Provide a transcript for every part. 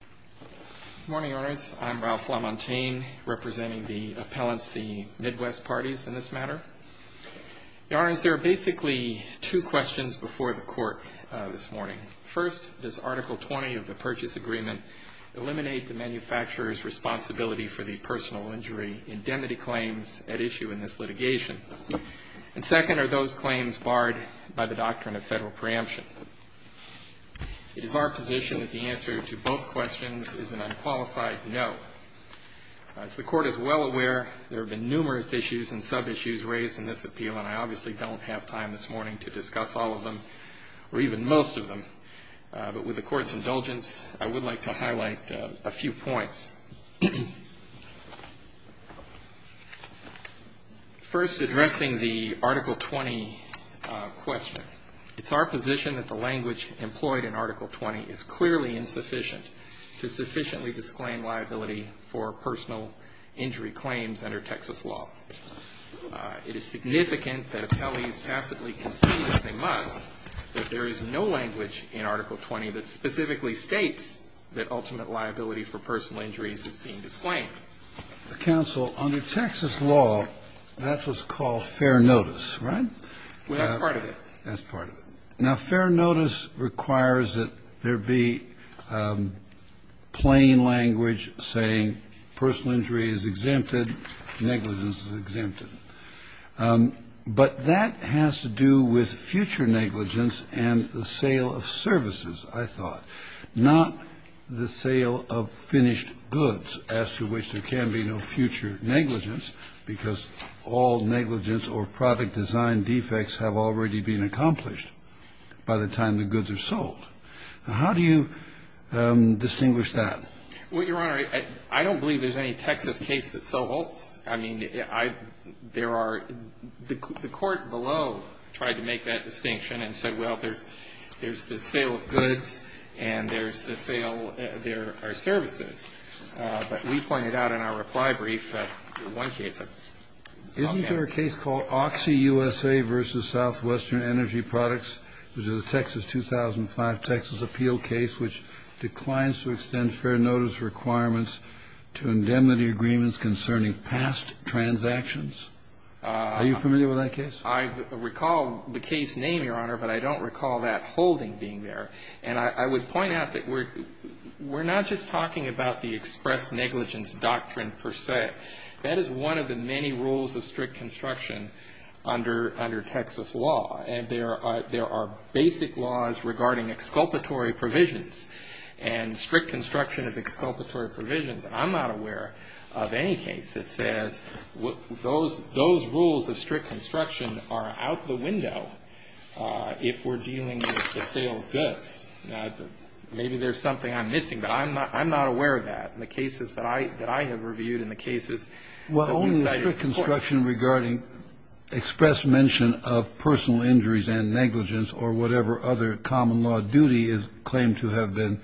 Good morning, Your Honors. I'm Ralph LaMontagne, representing the appellants, the Midwest parties in this matter. Your Honors, there are basically two questions before the Court this morning. First, does Article 20 of the Purchase Agreement eliminate the manufacturer's responsibility for the personal injury indemnity claims at issue in this litigation? And second, are those claims barred by the doctrine of federal preemption? It is our position that the answer to both questions is an unqualified no. As the Court is well aware, there have been numerous issues and sub-issues raised in this appeal, and I obviously don't have time this morning to discuss all of them, or even most of them. But with the Court's indulgence, I would like to highlight a few points. First, addressing the Article 20 question. It's our position that the language employed in Article 20 is clearly insufficient to sufficiently disclaim liability for personal injury claims under Texas law. It is significant that appellees tacitly concede that they must, but there is no language in Article 20 that specifically states that ultimate liability for personal injuries is being disclaimed. Counsel, under Texas law, that's what's called fair notice, right? Well, that's part of it. That's part of it. Now, fair notice requires that there be plain language saying personal injury is exempted, negligence is exempted. But that has to do with future negligence and the sale of services, I thought, not the sale of finished goods, as to which there can be no future negligence, because all negligence or product design defects have already been accomplished by the time the goods are sold. Now, how do you distinguish that? Well, Your Honor, I don't believe there's any Texas case that so holds. I mean, there are the court below tried to make that distinction and said, well, there's the sale of goods and there's the sale, there are services. But we pointed out in our reply brief that in one case, okay. Isn't there a case called OxyUSA v. Southwestern Energy Products? It was a Texas 2005 Texas appeal case which declines to extend fair notice requirements to indemnity agreements concerning past transactions. Are you familiar with that case? I recall the case name, Your Honor, but I don't recall that holding being there. And I would point out that we're not just talking about the express negligence doctrine per se. That is one of the many rules of strict construction under Texas law. And there are basic laws regarding exculpatory provisions and strict construction of exculpatory provisions. And I'm not aware of any case that says those rules of strict construction are out the window if we're dealing with the sale of goods. Now, maybe there's something I'm missing, but I'm not aware of that in the cases that I have reviewed and the cases that we cited. Well, only strict construction regarding express mention of personal injuries and negligence or whatever other common law duty is claimed to have been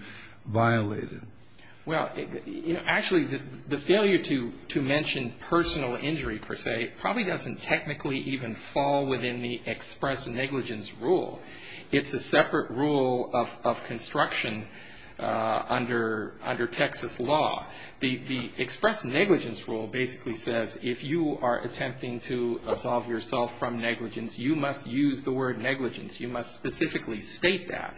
violated. Well, actually, the failure to mention personal injury per se probably doesn't technically even fall within the express negligence rule. It's a separate rule of construction under Texas law. The express negligence rule basically says if you are attempting to absolve yourself from negligence, you must use the word negligence, you must specifically state that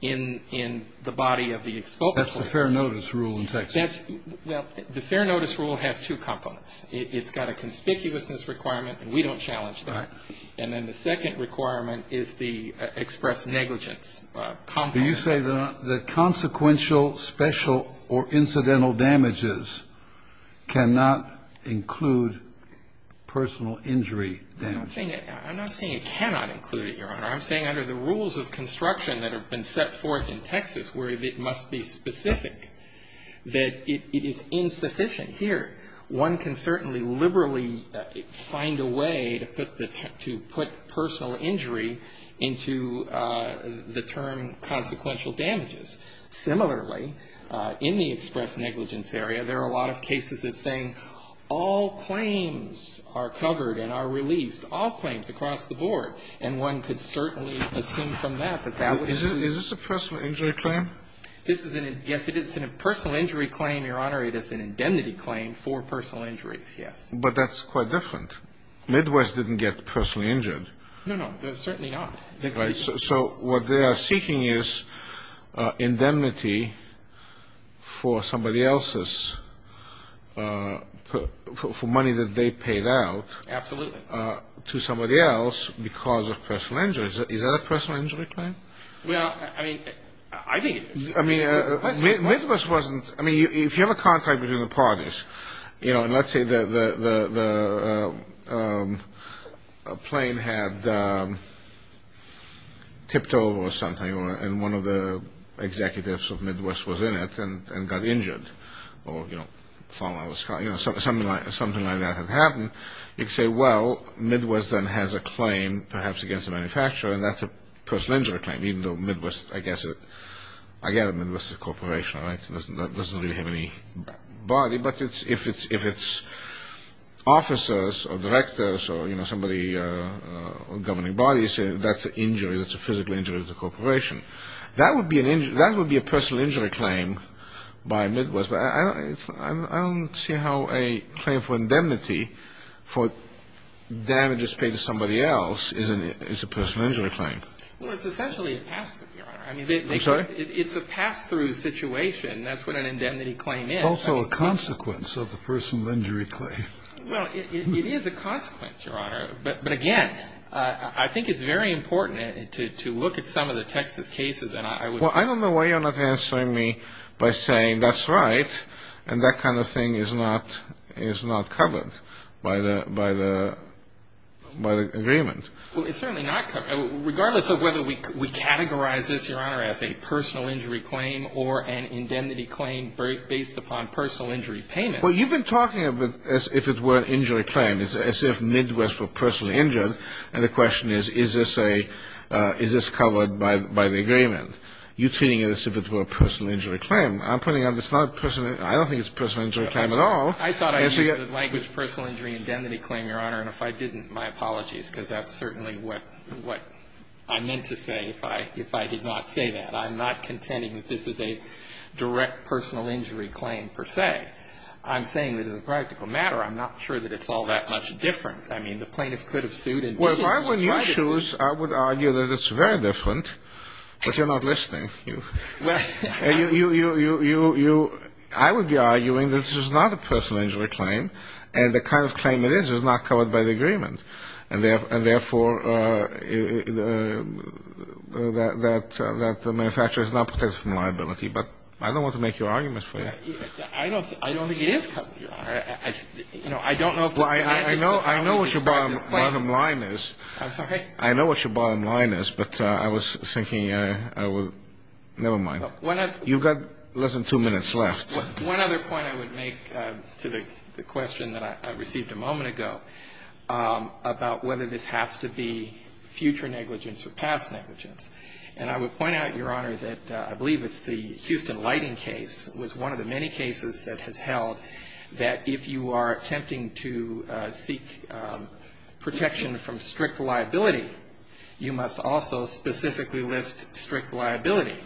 in the body of the exculpatory provision. That's the fair notice rule in Texas. Well, the fair notice rule has two components. It's got a conspicuousness requirement, and we don't challenge that. And then the second requirement is the express negligence component. Do you say that consequential, special, or incidental damages cannot include personal injury damages? I'm not saying it cannot include it, Your Honor. I'm saying under the rules of construction that have been set forth in Texas where it must be specific that it is insufficient. Here, one can certainly liberally find a way to put personal injury into the term consequential damages. Similarly, in the express negligence area, there are a lot of cases that say all claims are covered and are released, all claims across the board. And one could certainly assume from that that that would include. Is this a personal injury claim? Yes, it is a personal injury claim, Your Honor. It is an indemnity claim for personal injuries, yes. But that's quite different. Midwest didn't get personally injured. No, no, certainly not. Right. So what they are seeking is indemnity for somebody else's, for money that they paid out. Absolutely. To somebody else because of personal injuries. Is that a personal injury claim? Well, I mean, I think it is. I mean, if you have a contact between the parties, you know, and let's say the plane had tipped over or something, and one of the executives of Midwest was in it and got injured or, you know, fell out of the sky, you know, something like that had happened, you could say, well, Midwest then has a claim perhaps against the manufacturer, and that's a personal injury claim, even though Midwest, I guess, again, Midwest is a corporation, right? It doesn't really have any body. But if it's officers or directors or, you know, somebody governing bodies, that's an injury. That's a physical injury to the corporation. That would be a personal injury claim by Midwest. But I don't see how a claim for indemnity for damages paid to somebody else is a personal injury claim. Well, it's essentially a pass-through, Your Honor. I'm sorry? It's a pass-through situation. That's what an indemnity claim is. Also a consequence of the personal injury claim. Well, it is a consequence, Your Honor. But, again, I think it's very important to look at some of the Texas cases. Well, I don't know why you're not answering me by saying that's right, and that kind of thing is not covered by the agreement. Well, it's certainly not covered. Regardless of whether we categorize this, Your Honor, as a personal injury claim or an indemnity claim based upon personal injury payments. Well, you've been talking as if it were an injury claim, as if Midwest were personally injured, and the question is, is this covered by the agreement? You're treating it as if it were a personal injury claim. I'm pointing out it's not a personal injury claim. I don't think it's a personal injury claim at all. I thought I used the language personal injury indemnity claim, Your Honor, and if I didn't, my apologies, because that's certainly what I meant to say if I did not say that. I'm not contending that this is a direct personal injury claim, per se. I'm saying that as a practical matter, I'm not sure that it's all that much different. I mean, the plaintiff could have sued and tried to sue. Well, if I were in your shoes, I would argue that it's very different, but you're not listening. I would be arguing that this is not a personal injury claim, and the kind of claim it is is not covered by the agreement, and therefore that the manufacturer is not protected from liability. But I don't want to make your argument for you. I don't think it is covered, Your Honor. Well, I know what your bottom line is. I'm sorry? I know what your bottom line is, but I was thinking I would never mind. You've got less than two minutes left. One other point I would make to the question that I received a moment ago about whether this has to be future negligence or past negligence. And I would point out, Your Honor, that I believe it's the Houston Lighting case was one of the many cases that has held that if you are attempting to seek protection from strict liability, you must also specifically list strict liability.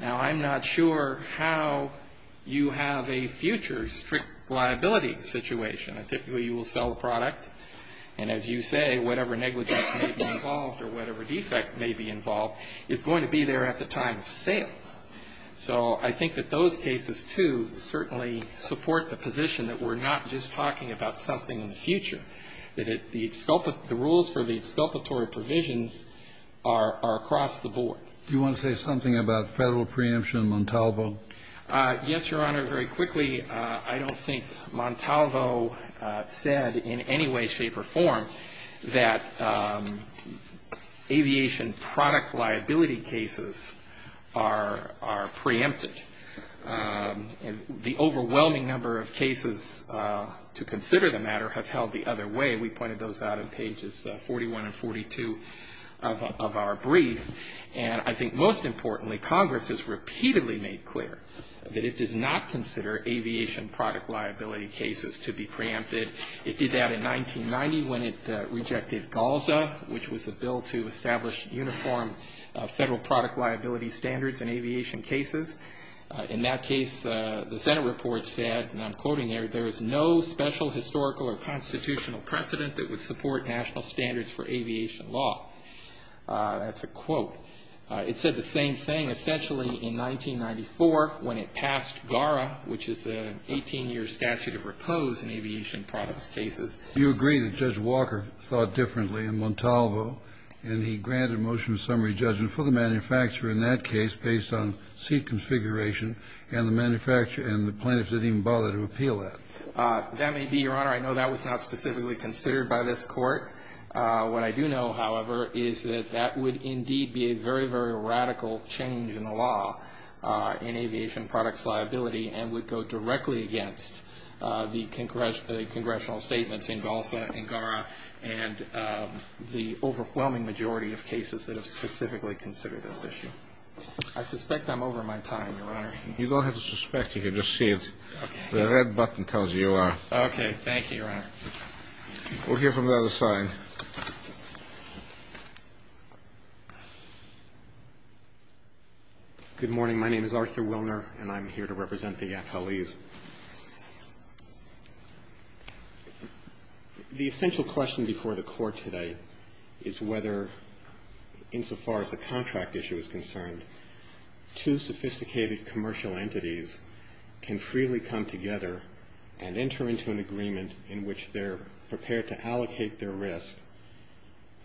Now, I'm not sure how you have a future strict liability situation. Typically, you will sell a product, and as you say, whatever negligence may be involved or whatever defect may be involved is going to be there at the time of sale. So I think that those cases, too, certainly support the position that we're not just talking about something in the future, that the rules for the exculpatory provisions are across the board. Do you want to say something about Federal preemption in Montalvo? Yes, Your Honor. Your Honor, very quickly, I don't think Montalvo said in any way, shape, or form that aviation product liability cases are preempted. The overwhelming number of cases to consider the matter have held the other way. We pointed those out in pages 41 and 42 of our brief. And I think most importantly, Congress has repeatedly made clear that it does not consider aviation product liability cases to be preempted. It did that in 1990 when it rejected GALSA, which was a bill to establish uniform Federal product liability standards in aviation cases. In that case, the Senate report said, and I'm quoting here, there is no special historical or constitutional precedent that would support national standards for aviation law. That's a quote. It said the same thing, essentially, in 1994 when it passed GARA, which is an 18-year statute of repose in aviation products cases. Do you agree that Judge Walker thought differently in Montalvo and he granted a motion of summary judgment for the manufacturer in that case based on seat configuration and the manufacturer and the plaintiffs didn't even bother to appeal that? That may be, Your Honor. I know that was not specifically considered by this Court. What I do know, however, is that that would indeed be a very, very radical change in the law in aviation products liability and would go directly against the congressional statements in GALSA and GARA and the overwhelming majority of cases that have specifically considered this issue. I suspect I'm over my time, Your Honor. You don't have to suspect. You can just see it. The red button tells you you are. Okay. Thank you, Your Honor. We'll hear from the other side. Good morning. My name is Arthur Wilner, and I'm here to represent the appellees. The essential question before the Court today is whether, insofar as the contract issue is concerned, two sophisticated commercial entities can freely come together and enter into an agreement in which they're prepared to allocate their risk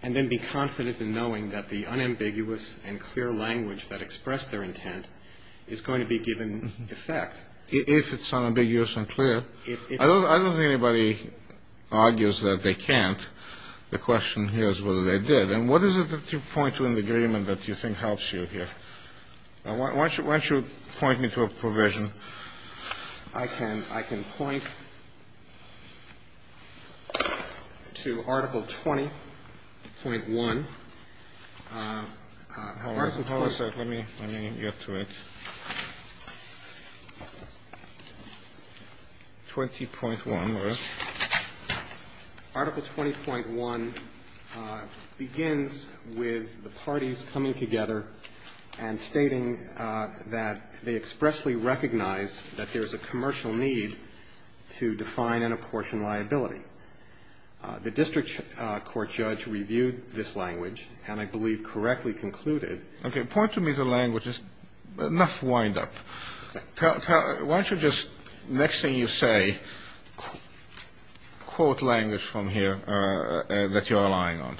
and then be confident in knowing that the unambiguous and clear language that expressed their intent is going to be given effect. If it's unambiguous and clear. I don't think anybody argues that they can't. The question here is whether they did. And what is it that you point to in the agreement that you think helps you here? Why don't you point me to a provision? I can point to Article 20.1. Let me get to it. 20.1. Article 20.1 begins with the parties coming together and stating that they expressly recognize that there is a commercial need to define an apportioned liability. The district court judge reviewed this language and I believe correctly concluded. Okay. Point to me the language. Enough wind-up. Why don't you just, next thing you say, quote language from here that you're relying on?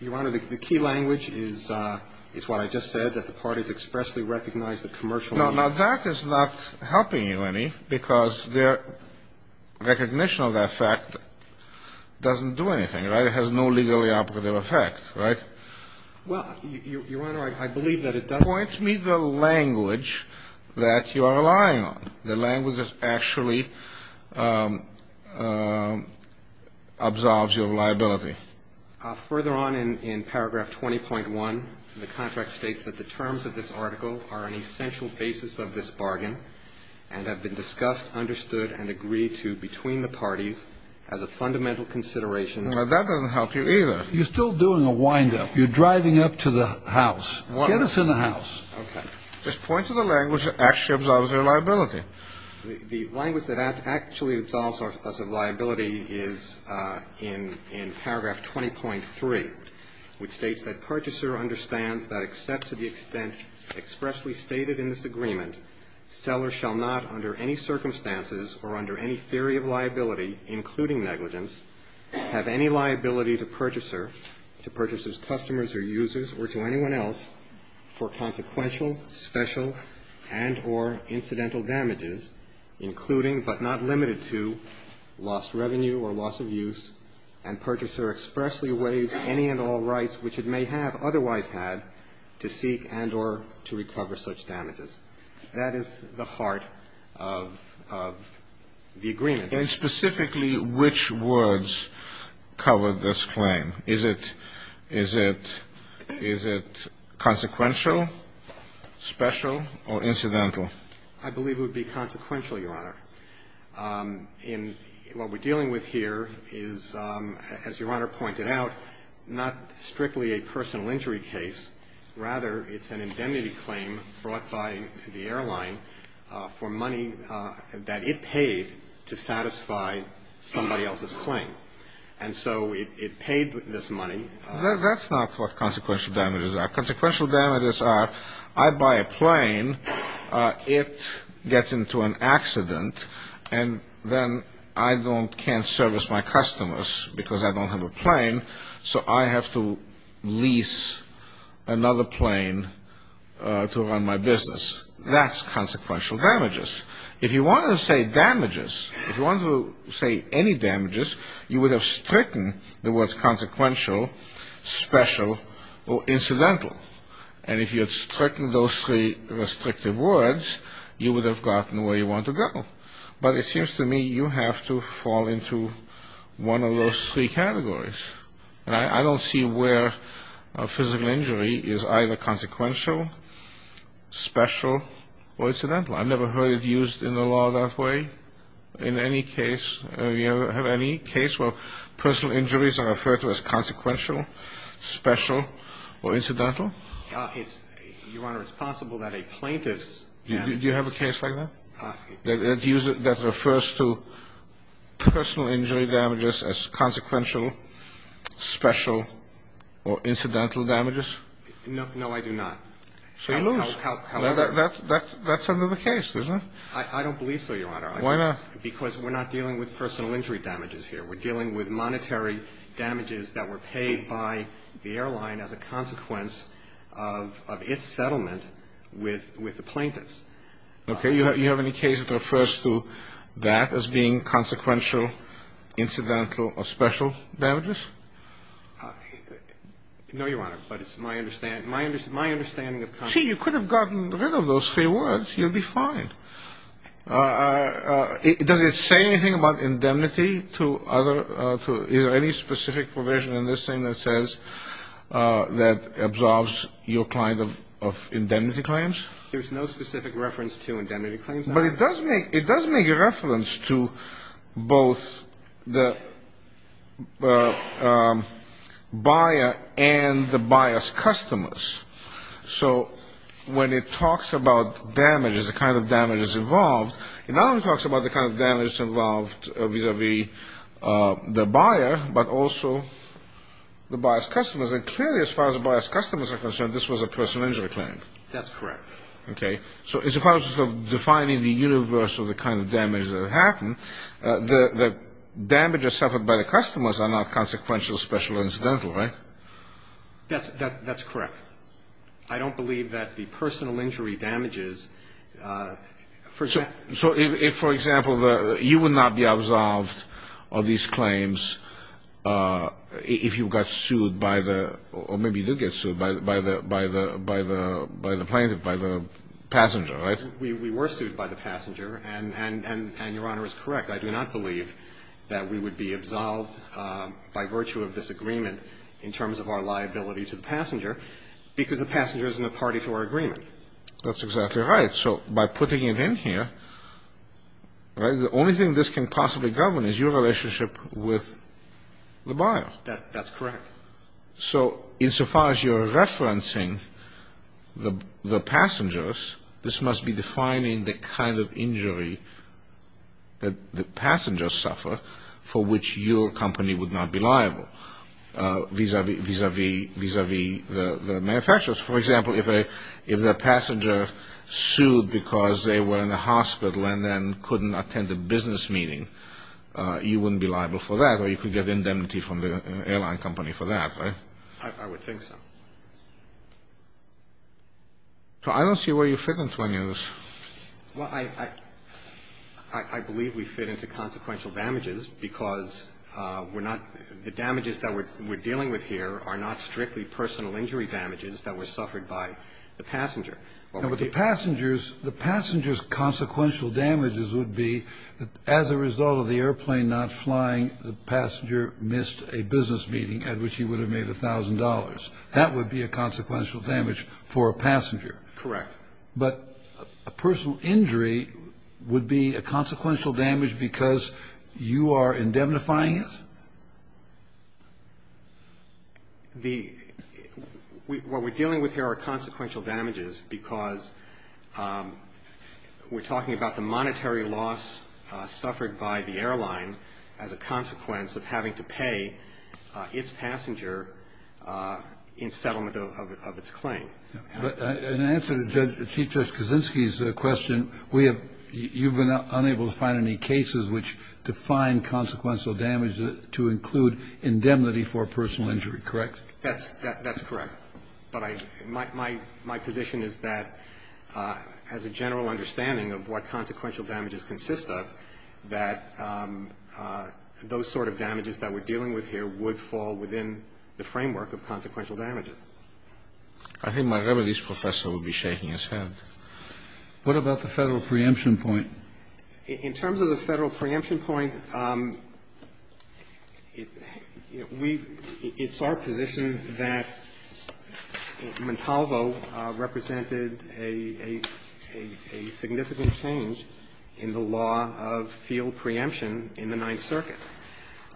Your Honor, the key language is what I just said, that the parties expressly recognize the commercial need. Now, that is not helping you any because their recognition of that fact doesn't do anything, right? It has no legally applicable effect, right? Well, Your Honor, I believe that it does. Point me the language that you are relying on, the language that actually absolves your liability. Further on in Paragraph 20.1, the contract states that the terms of this article are an essential basis of this bargain and have been discussed, understood, and agreed to between the parties as a fundamental consideration. Now, that doesn't help you either. You're still doing a wind-up. You're driving up to the house. Get us in the house. Okay. Just point to the language that actually absolves your liability. The language that actually absolves us of liability is in Paragraph 20.3, which states that purchaser understands that except to the extent expressly stated in this agreement, seller shall not under any circumstances or under any theory of liability, including negligence, have any liability to purchaser, to purchaser's customers or users or to anyone else, for consequential, special, and or incidental damages, including but not limited to lost revenue or loss of use, and purchaser expressly waives any and all rights which it may have otherwise had to seek and or to recover such damages. That is the heart of the agreement. And specifically which words cover this claim? Is it consequential, special, or incidental? I believe it would be consequential, Your Honor. What we're dealing with here is, as Your Honor pointed out, not strictly a personal injury case. Rather, it's an indemnity claim brought by the airline for money that it paid to satisfy somebody else's claim. And so it paid this money. That's not what consequential damages are. Consequential damages are, I buy a plane, it gets into an accident, and then I can't service my customers because I don't have a plane, so I have to lease another plane to run my business. That's consequential damages. If you wanted to say damages, if you wanted to say any damages, you would have stricken the words consequential, special, or incidental. And if you had stricken those three restrictive words, you would have gotten where you want to go. But it seems to me you have to fall into one of those three categories. And I don't see where a physical injury is either consequential, special, or incidental. I've never heard it used in the law that way in any case. Do you have any case where personal injuries are referred to as consequential, special, or incidental? It's, Your Honor, it's possible that a plaintiff's damages. Do you have a case like that? That refers to personal injury damages as consequential, special, or incidental damages? No, I do not. So you lose. That's under the case, isn't it? I don't believe so, Your Honor. Why not? Because we're not dealing with personal injury damages here. We're dealing with monetary damages that were paid by the airline as a consequence of its settlement with the plaintiffs. Okay. Do you have any case that refers to that as being consequential, incidental, or special damages? No, Your Honor, but it's my understanding of consequences. Well, see, you could have gotten rid of those three words. You'd be fine. Does it say anything about indemnity to other, is there any specific provision in this thing that says, that absolves your client of indemnity claims? There's no specific reference to indemnity claims. But it does make reference to both the buyer and the buyer's customers. So when it talks about damages, the kind of damages involved, it not only talks about the kind of damages involved vis-a-vis the buyer, but also the buyer's customers. And clearly, as far as the buyer's customers are concerned, this was a personal injury claim. That's correct. Okay. So as far as defining the universe of the kind of damage that happened, the damages suffered by the customers are not consequential, special, or incidental, right? That's correct. I don't believe that the personal injury damages, for example. So if, for example, you would not be absolved of these claims if you got sued by the, or maybe you did get sued by the plaintiff, by the passenger, right? We were sued by the passenger, and Your Honor is correct. I do not believe that we would be absolved by virtue of this agreement in terms of our liability to the passenger. Because the passenger isn't a party to our agreement. That's exactly right. So by putting it in here, right, the only thing this can possibly govern is your relationship with the buyer. That's correct. So insofar as you're referencing the passengers, this must be defining the kind of injury that the passengers suffer for which your company would not be liable, vis-à-vis the manufacturers. For example, if the passenger sued because they were in the hospital and then couldn't attend a business meeting, you wouldn't be liable for that, or you could get indemnity from the airline company for that, right? I would think so. So I don't see where you fit into any of this. Well, I believe we fit into consequential damages because we're not the damages that we're dealing with here are not strictly personal injury damages that were suffered by the passenger. But the passengers' consequential damages would be as a result of the airplane not flying, the passenger missed a business meeting at which he would have made $1,000. That would be a consequential damage for a passenger. Correct. But a personal injury would be a consequential damage because you are indemnifying it? The – what we're dealing with here are consequential damages because we're talking about the monetary loss suffered by the airline as a consequence of having to pay its passenger in settlement of its claim. But in answer to Chief Judge Kaczynski's question, we have – you've been unable to find any cases which define consequential damage to include indemnity for personal injury, correct? That's correct. But I – my position is that as a general understanding of what consequential damages consist of, that those sort of damages that we're dealing with here would fall within the framework of consequential damages. I think my remedies professor would be shaking his head. What about the Federal preemption point? In terms of the Federal preemption point, we – it's our position that Montalvo represented a significant change in the law of field preemption in the Ninth Circuit.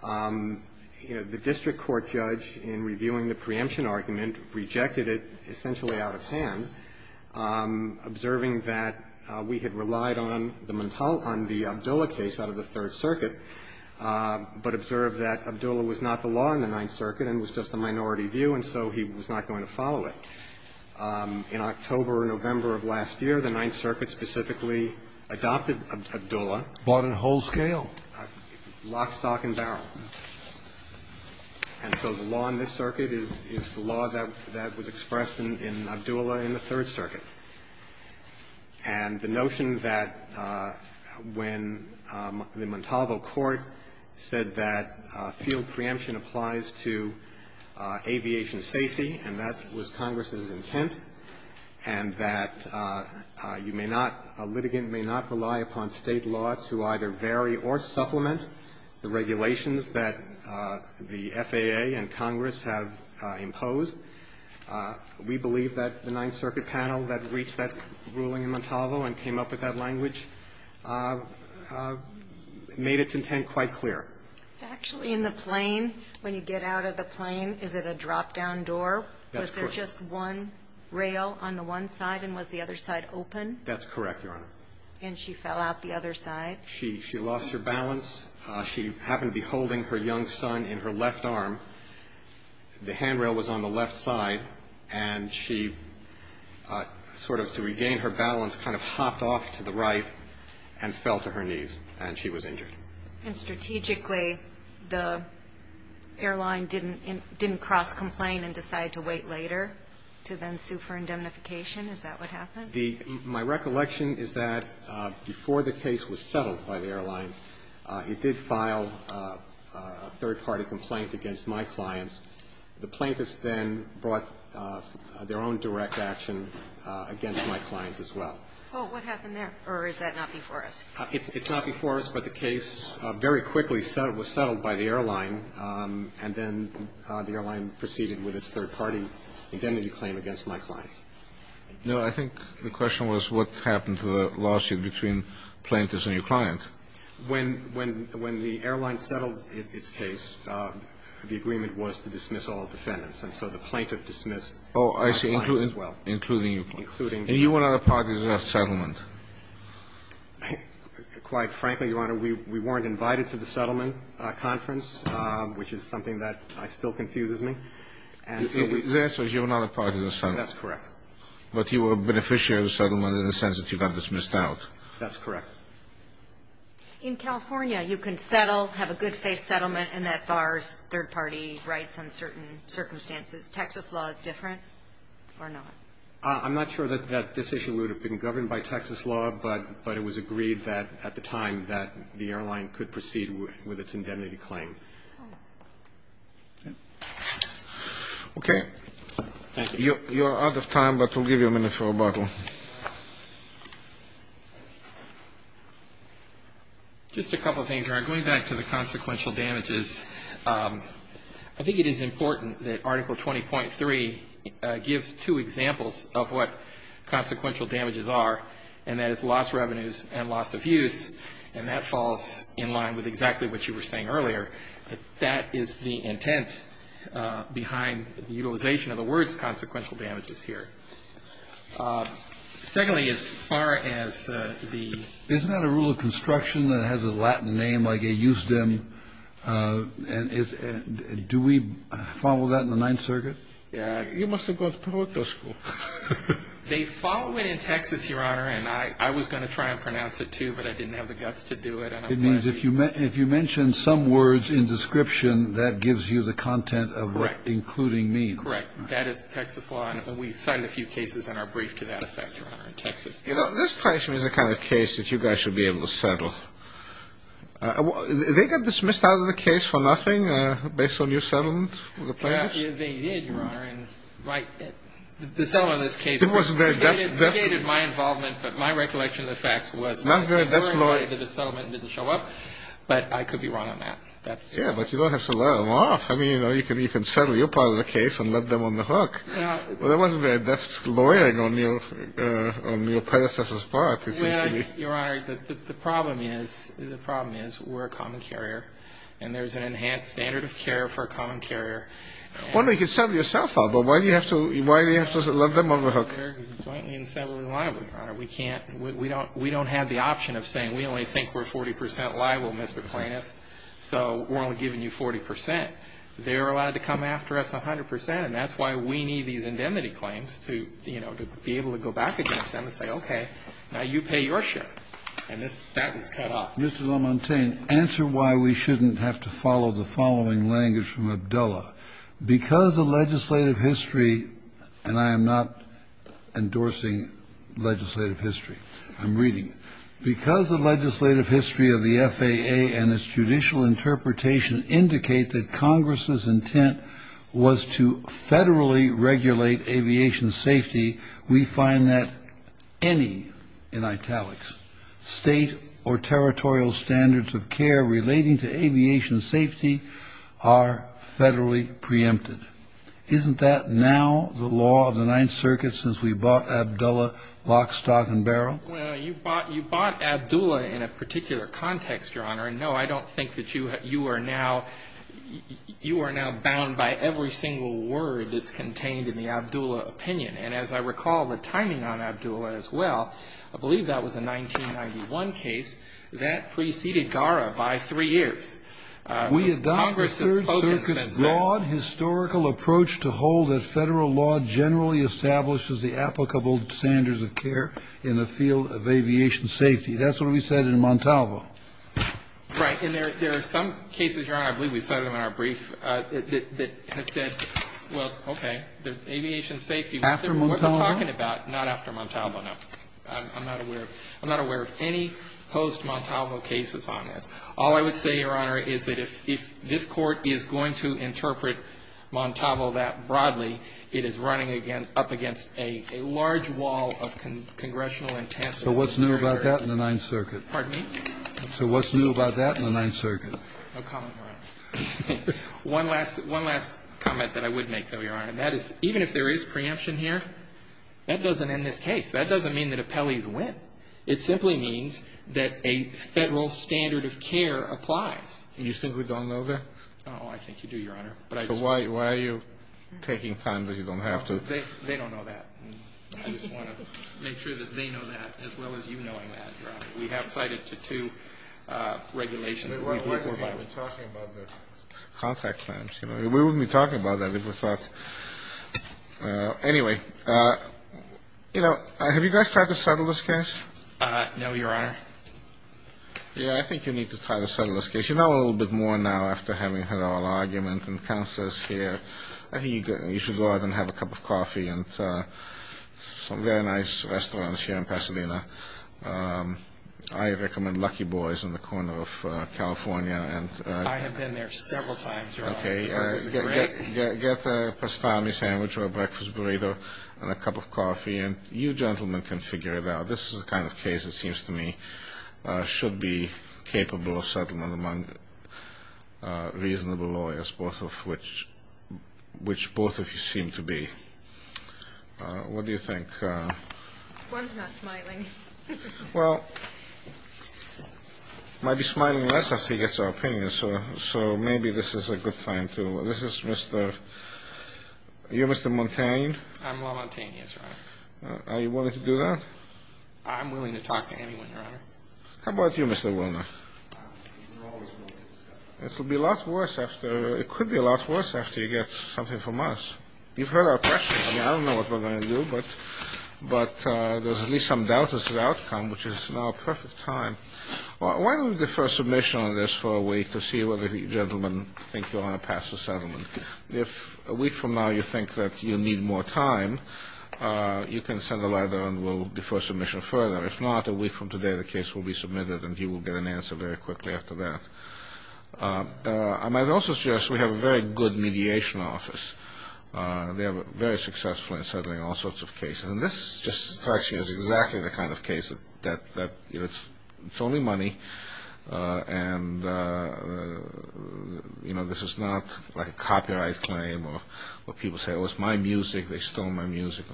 The district court judge, in reviewing the preemption argument, rejected it essentially out of hand, observing that we had relied on the Montalvo – on the Abdullah case out of the Third Circuit, but observed that Abdullah was not the law in the Ninth Circuit and was just a minority view, and so he was not going to follow it. In October or November of last year, the Ninth Circuit specifically adopted Abdullah. But in whole scale? Lock, stock and barrel. And so the law in this circuit is the law that was expressed in Abdullah in the Third Circuit. And the notion that when the Montalvo court said that field preemption applies to aviation safety, and that was Congress's intent, and that you may not – a litigant may not rely upon State law to either vary or supplement the regulations that the FAA and Congress have imposed, we believe that the Ninth Circuit panel that reached that ruling in Montalvo and came up with that language made its intent quite clear. Actually, in the plane, when you get out of the plane, is it a drop-down door? That's correct. Was there just one rail on the one side, and was the other side open? That's correct, Your Honor. And she fell out the other side? She lost her balance. She happened to be holding her young son in her left arm. The handrail was on the left side, and she sort of, to regain her balance, kind of hopped off to the right and fell to her knees, and she was injured. And strategically, the airline didn't cross-complain and decide to wait later to then sue for indemnification? Is that what happened? The my recollection is that before the case was settled by the airline, it did file a third-party complaint against my clients. The plaintiffs then brought their own direct action against my clients as well. Oh, what happened there? Or is that not before us? It's not before us, but the case very quickly was settled by the airline, and then the airline proceeded with its third-party indemnity claim against my clients. No, I think the question was what happened to the lawsuit between plaintiffs and your client. When the airline settled its case, the agreement was to dismiss all defendants, and so the plaintiff dismissed my clients as well. Oh, I see, including you. Including me. And you were not a part of the settlement? Quite frankly, Your Honor, we weren't invited to the settlement conference, which is something that still confuses me. The answer is you were not a part of the settlement. That's correct. But you were a beneficiary of the settlement in the sense that you got dismissed out. That's correct. In California, you can settle, have a good-faith settlement, and that bars third-party rights on certain circumstances. Texas law is different, or not? I'm not sure that this issue would have been governed by Texas law, but it was agreed that at the time that the airline could proceed with its indemnity claim. Okay. Thank you. You are out of time, but we'll give you a minute for rebuttal. Just a couple things, Your Honor. Going back to the consequential damages, I think it is important that Article 20.3 gives two examples of what consequential damages are, and that is loss revenues and loss of use, and that falls in line with exactly what you were saying earlier, that that is the intent behind the utilization of the words consequential damages here. Secondly, as far as the ---- Isn't that a rule of construction that has a Latin name, like a eusdem? Do we follow that in the Ninth Circuit? You must have gone to political school. They follow it in Texas, Your Honor, and I was going to try and pronounce it, too, but I didn't have the guts to do it. It means if you mention some words in description, that gives you the content of what including means. Correct. That is Texas law, and we cited a few cases in our brief to that effect, Your Honor, in Texas. You know, this question is the kind of case that you guys should be able to settle. They got dismissed out of the case for nothing based on your settlement with the plaintiffs? They did, Your Honor, and the settlement of this case ---- It wasn't very definite. It indicated my involvement, but my recollection of the facts was ---- Not very definite. My lawyer did the settlement and didn't show up, but I could be wrong on that. Yeah, but you don't have to let them off. I mean, you know, you can settle your part of the case and let them on the hook. There wasn't very deft lawyering on your predecessor's part, essentially. Well, Your Honor, the problem is we're a common carrier, and there's an enhanced standard of care for a common carrier. Well, you can settle yourself out, but why do you have to let them on the hook? They're jointly and separately liable, Your Honor. We can't ---- we don't have the option of saying we only think we're 40 percent liable, Mr. Plaintiff, so we're only giving you 40 percent. They're allowed to come after us 100 percent, and that's why we need these indemnity claims to, you know, to be able to go back against them and say, okay, now you pay your share. And this ---- that was cut off. Mr. Lamontagne, answer why we shouldn't have to follow the following language from Abdullah. Because the legislative history ---- and I am not endorsing legislative history. I'm reading. Because the legislative history of the FAA and its judicial interpretation indicate that Congress's intent was to federally regulate aviation safety, we find that any, in italics, state or territorial standards of care relating to aviation safety are to be federally preempted. Isn't that now the law of the Ninth Circuit since we bought Abdullah, Lock, Stock and Barrel? Well, you bought ---- you bought Abdullah in a particular context, Your Honor, and no, I don't think that you are now ---- you are now bound by every single word that's contained in the Abdullah opinion. And as I recall the timing on Abdullah as well, I believe that was a 1991 case. That preceded GARA by three years. We adopt the Third Circuit's broad historical approach to hold that federal law generally establishes the applicable standards of care in the field of aviation safety. That's what we said in Montalvo. Right. And there are some cases, Your Honor, I believe we cited them in our brief, that have said, well, okay, aviation safety. After Montalvo? Not after Montalvo, no. I'm not aware of any post-Montalvo cases on this. All I would say, Your Honor, is that if this Court is going to interpret Montalvo that broadly, it is running up against a large wall of congressional intent. So what's new about that in the Ninth Circuit? Pardon me? So what's new about that in the Ninth Circuit? No comment, Your Honor. One last comment that I would make, though, Your Honor, and that is even if there is preemption here, that doesn't end this case. That doesn't mean that appellees win. It simply means that a federal standard of care applies. And you think we don't know that? Oh, I think you do, Your Honor. So why are you taking time that you don't have to? They don't know that. I just want to make sure that they know that as well as you knowing that, Your Honor. We have cited to two regulations. We've been talking about the contract claims. We wouldn't be talking about that if we thought. Anyway, you know, have you guys tried to settle this case? No, Your Honor. Yeah, I think you need to try to settle this case. You know a little bit more now after having had all argument and counsels here. I think you should go out and have a cup of coffee and some very nice restaurants here in Pasadena. I recommend Lucky Boys in the corner of California. I have been there several times, Your Honor. Okay. Get a pastrami sandwich or a breakfast burrito and a cup of coffee, and you gentlemen can figure it out. This is the kind of case, it seems to me, should be capable of settlement among reasonable lawyers, which both of you seem to be. What do you think? One's not smiling. Well, he might be smiling less if he gets our opinion, so maybe this is a good time to. This is Mr. Are you Mr. Montagne? I'm La Montagne, Yes, Your Honor. Are you willing to do that? I'm willing to talk to anyone, Your Honor. How about you, Mr. Wilner? We're always willing to discuss it. It will be a lot worse after. It could be a lot worse after you get something from us. You've heard our questions. I don't know what we're going to do, but there's at least some doubt as to the outcome, which is now a perfect time. Why don't we defer submission on this for a week to see whether you gentlemen think you want to pass the settlement? If a week from now you think that you need more time, you can send a letter and we'll defer submission further. If not, a week from today the case will be submitted and you will get an answer very quickly after that. I might also suggest we have a very good mediation office. They are very successful in settling all sorts of cases. This is exactly the kind of case that it's only money and this is not a copyright claim or people say it was my music, they stole my music.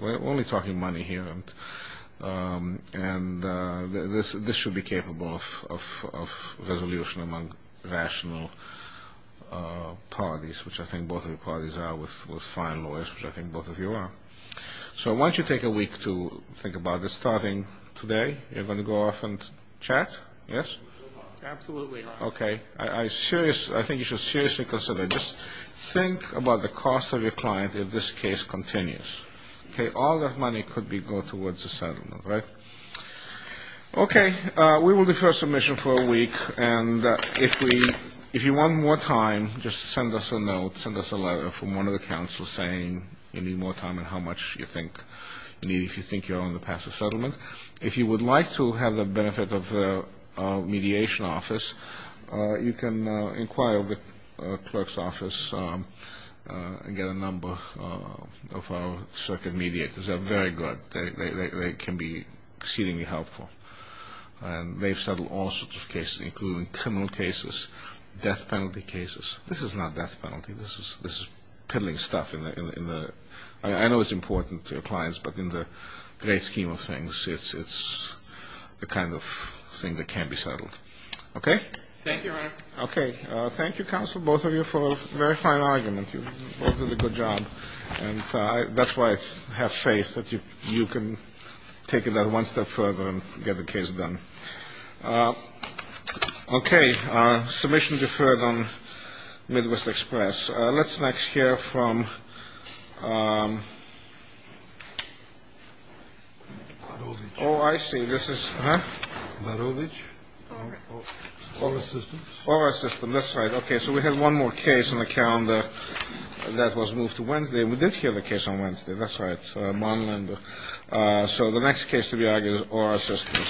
We're only talking money here. This should be capable of resolution among rational parties, which I think both of your parties are with fine lawyers, which I think both of you are. So I want you to take a week to think about this. Starting today, you're going to go off and chat? Yes? Absolutely. Okay. I think you should seriously consider. Just think about the cost of your client if this case continues. All that money could go towards a settlement, right? Okay. We will defer submission for a week. And if you want more time, just send us a note, send us a letter from one of the counsels saying you need more time and how much you think you need if you think you're on the path to settlement. And if you would like to have the benefit of a mediation office, you can inquire with the clerk's office and get a number of our circuit mediators. They're very good. They can be exceedingly helpful. And they've settled all sorts of cases, including criminal cases, death penalty cases. This is not death penalty. This is piddling stuff. I know it's important to your clients, but in the great scheme of things, it's the kind of thing that can be settled. Thank you, Your Honor. Okay. Thank you, counsel, both of you, for a very fine argument. You both did a good job. And that's why I have faith that you can take it that one step further and get the case done. Okay. Submission deferred on Midwest Express. Let's next hear from. Oh, I see. This is. All right. That's right. Okay. So we have one more case on the calendar that was moved to Wednesday. We did hear the case on Wednesday. That's right. So the next case to be argued is oral assistance.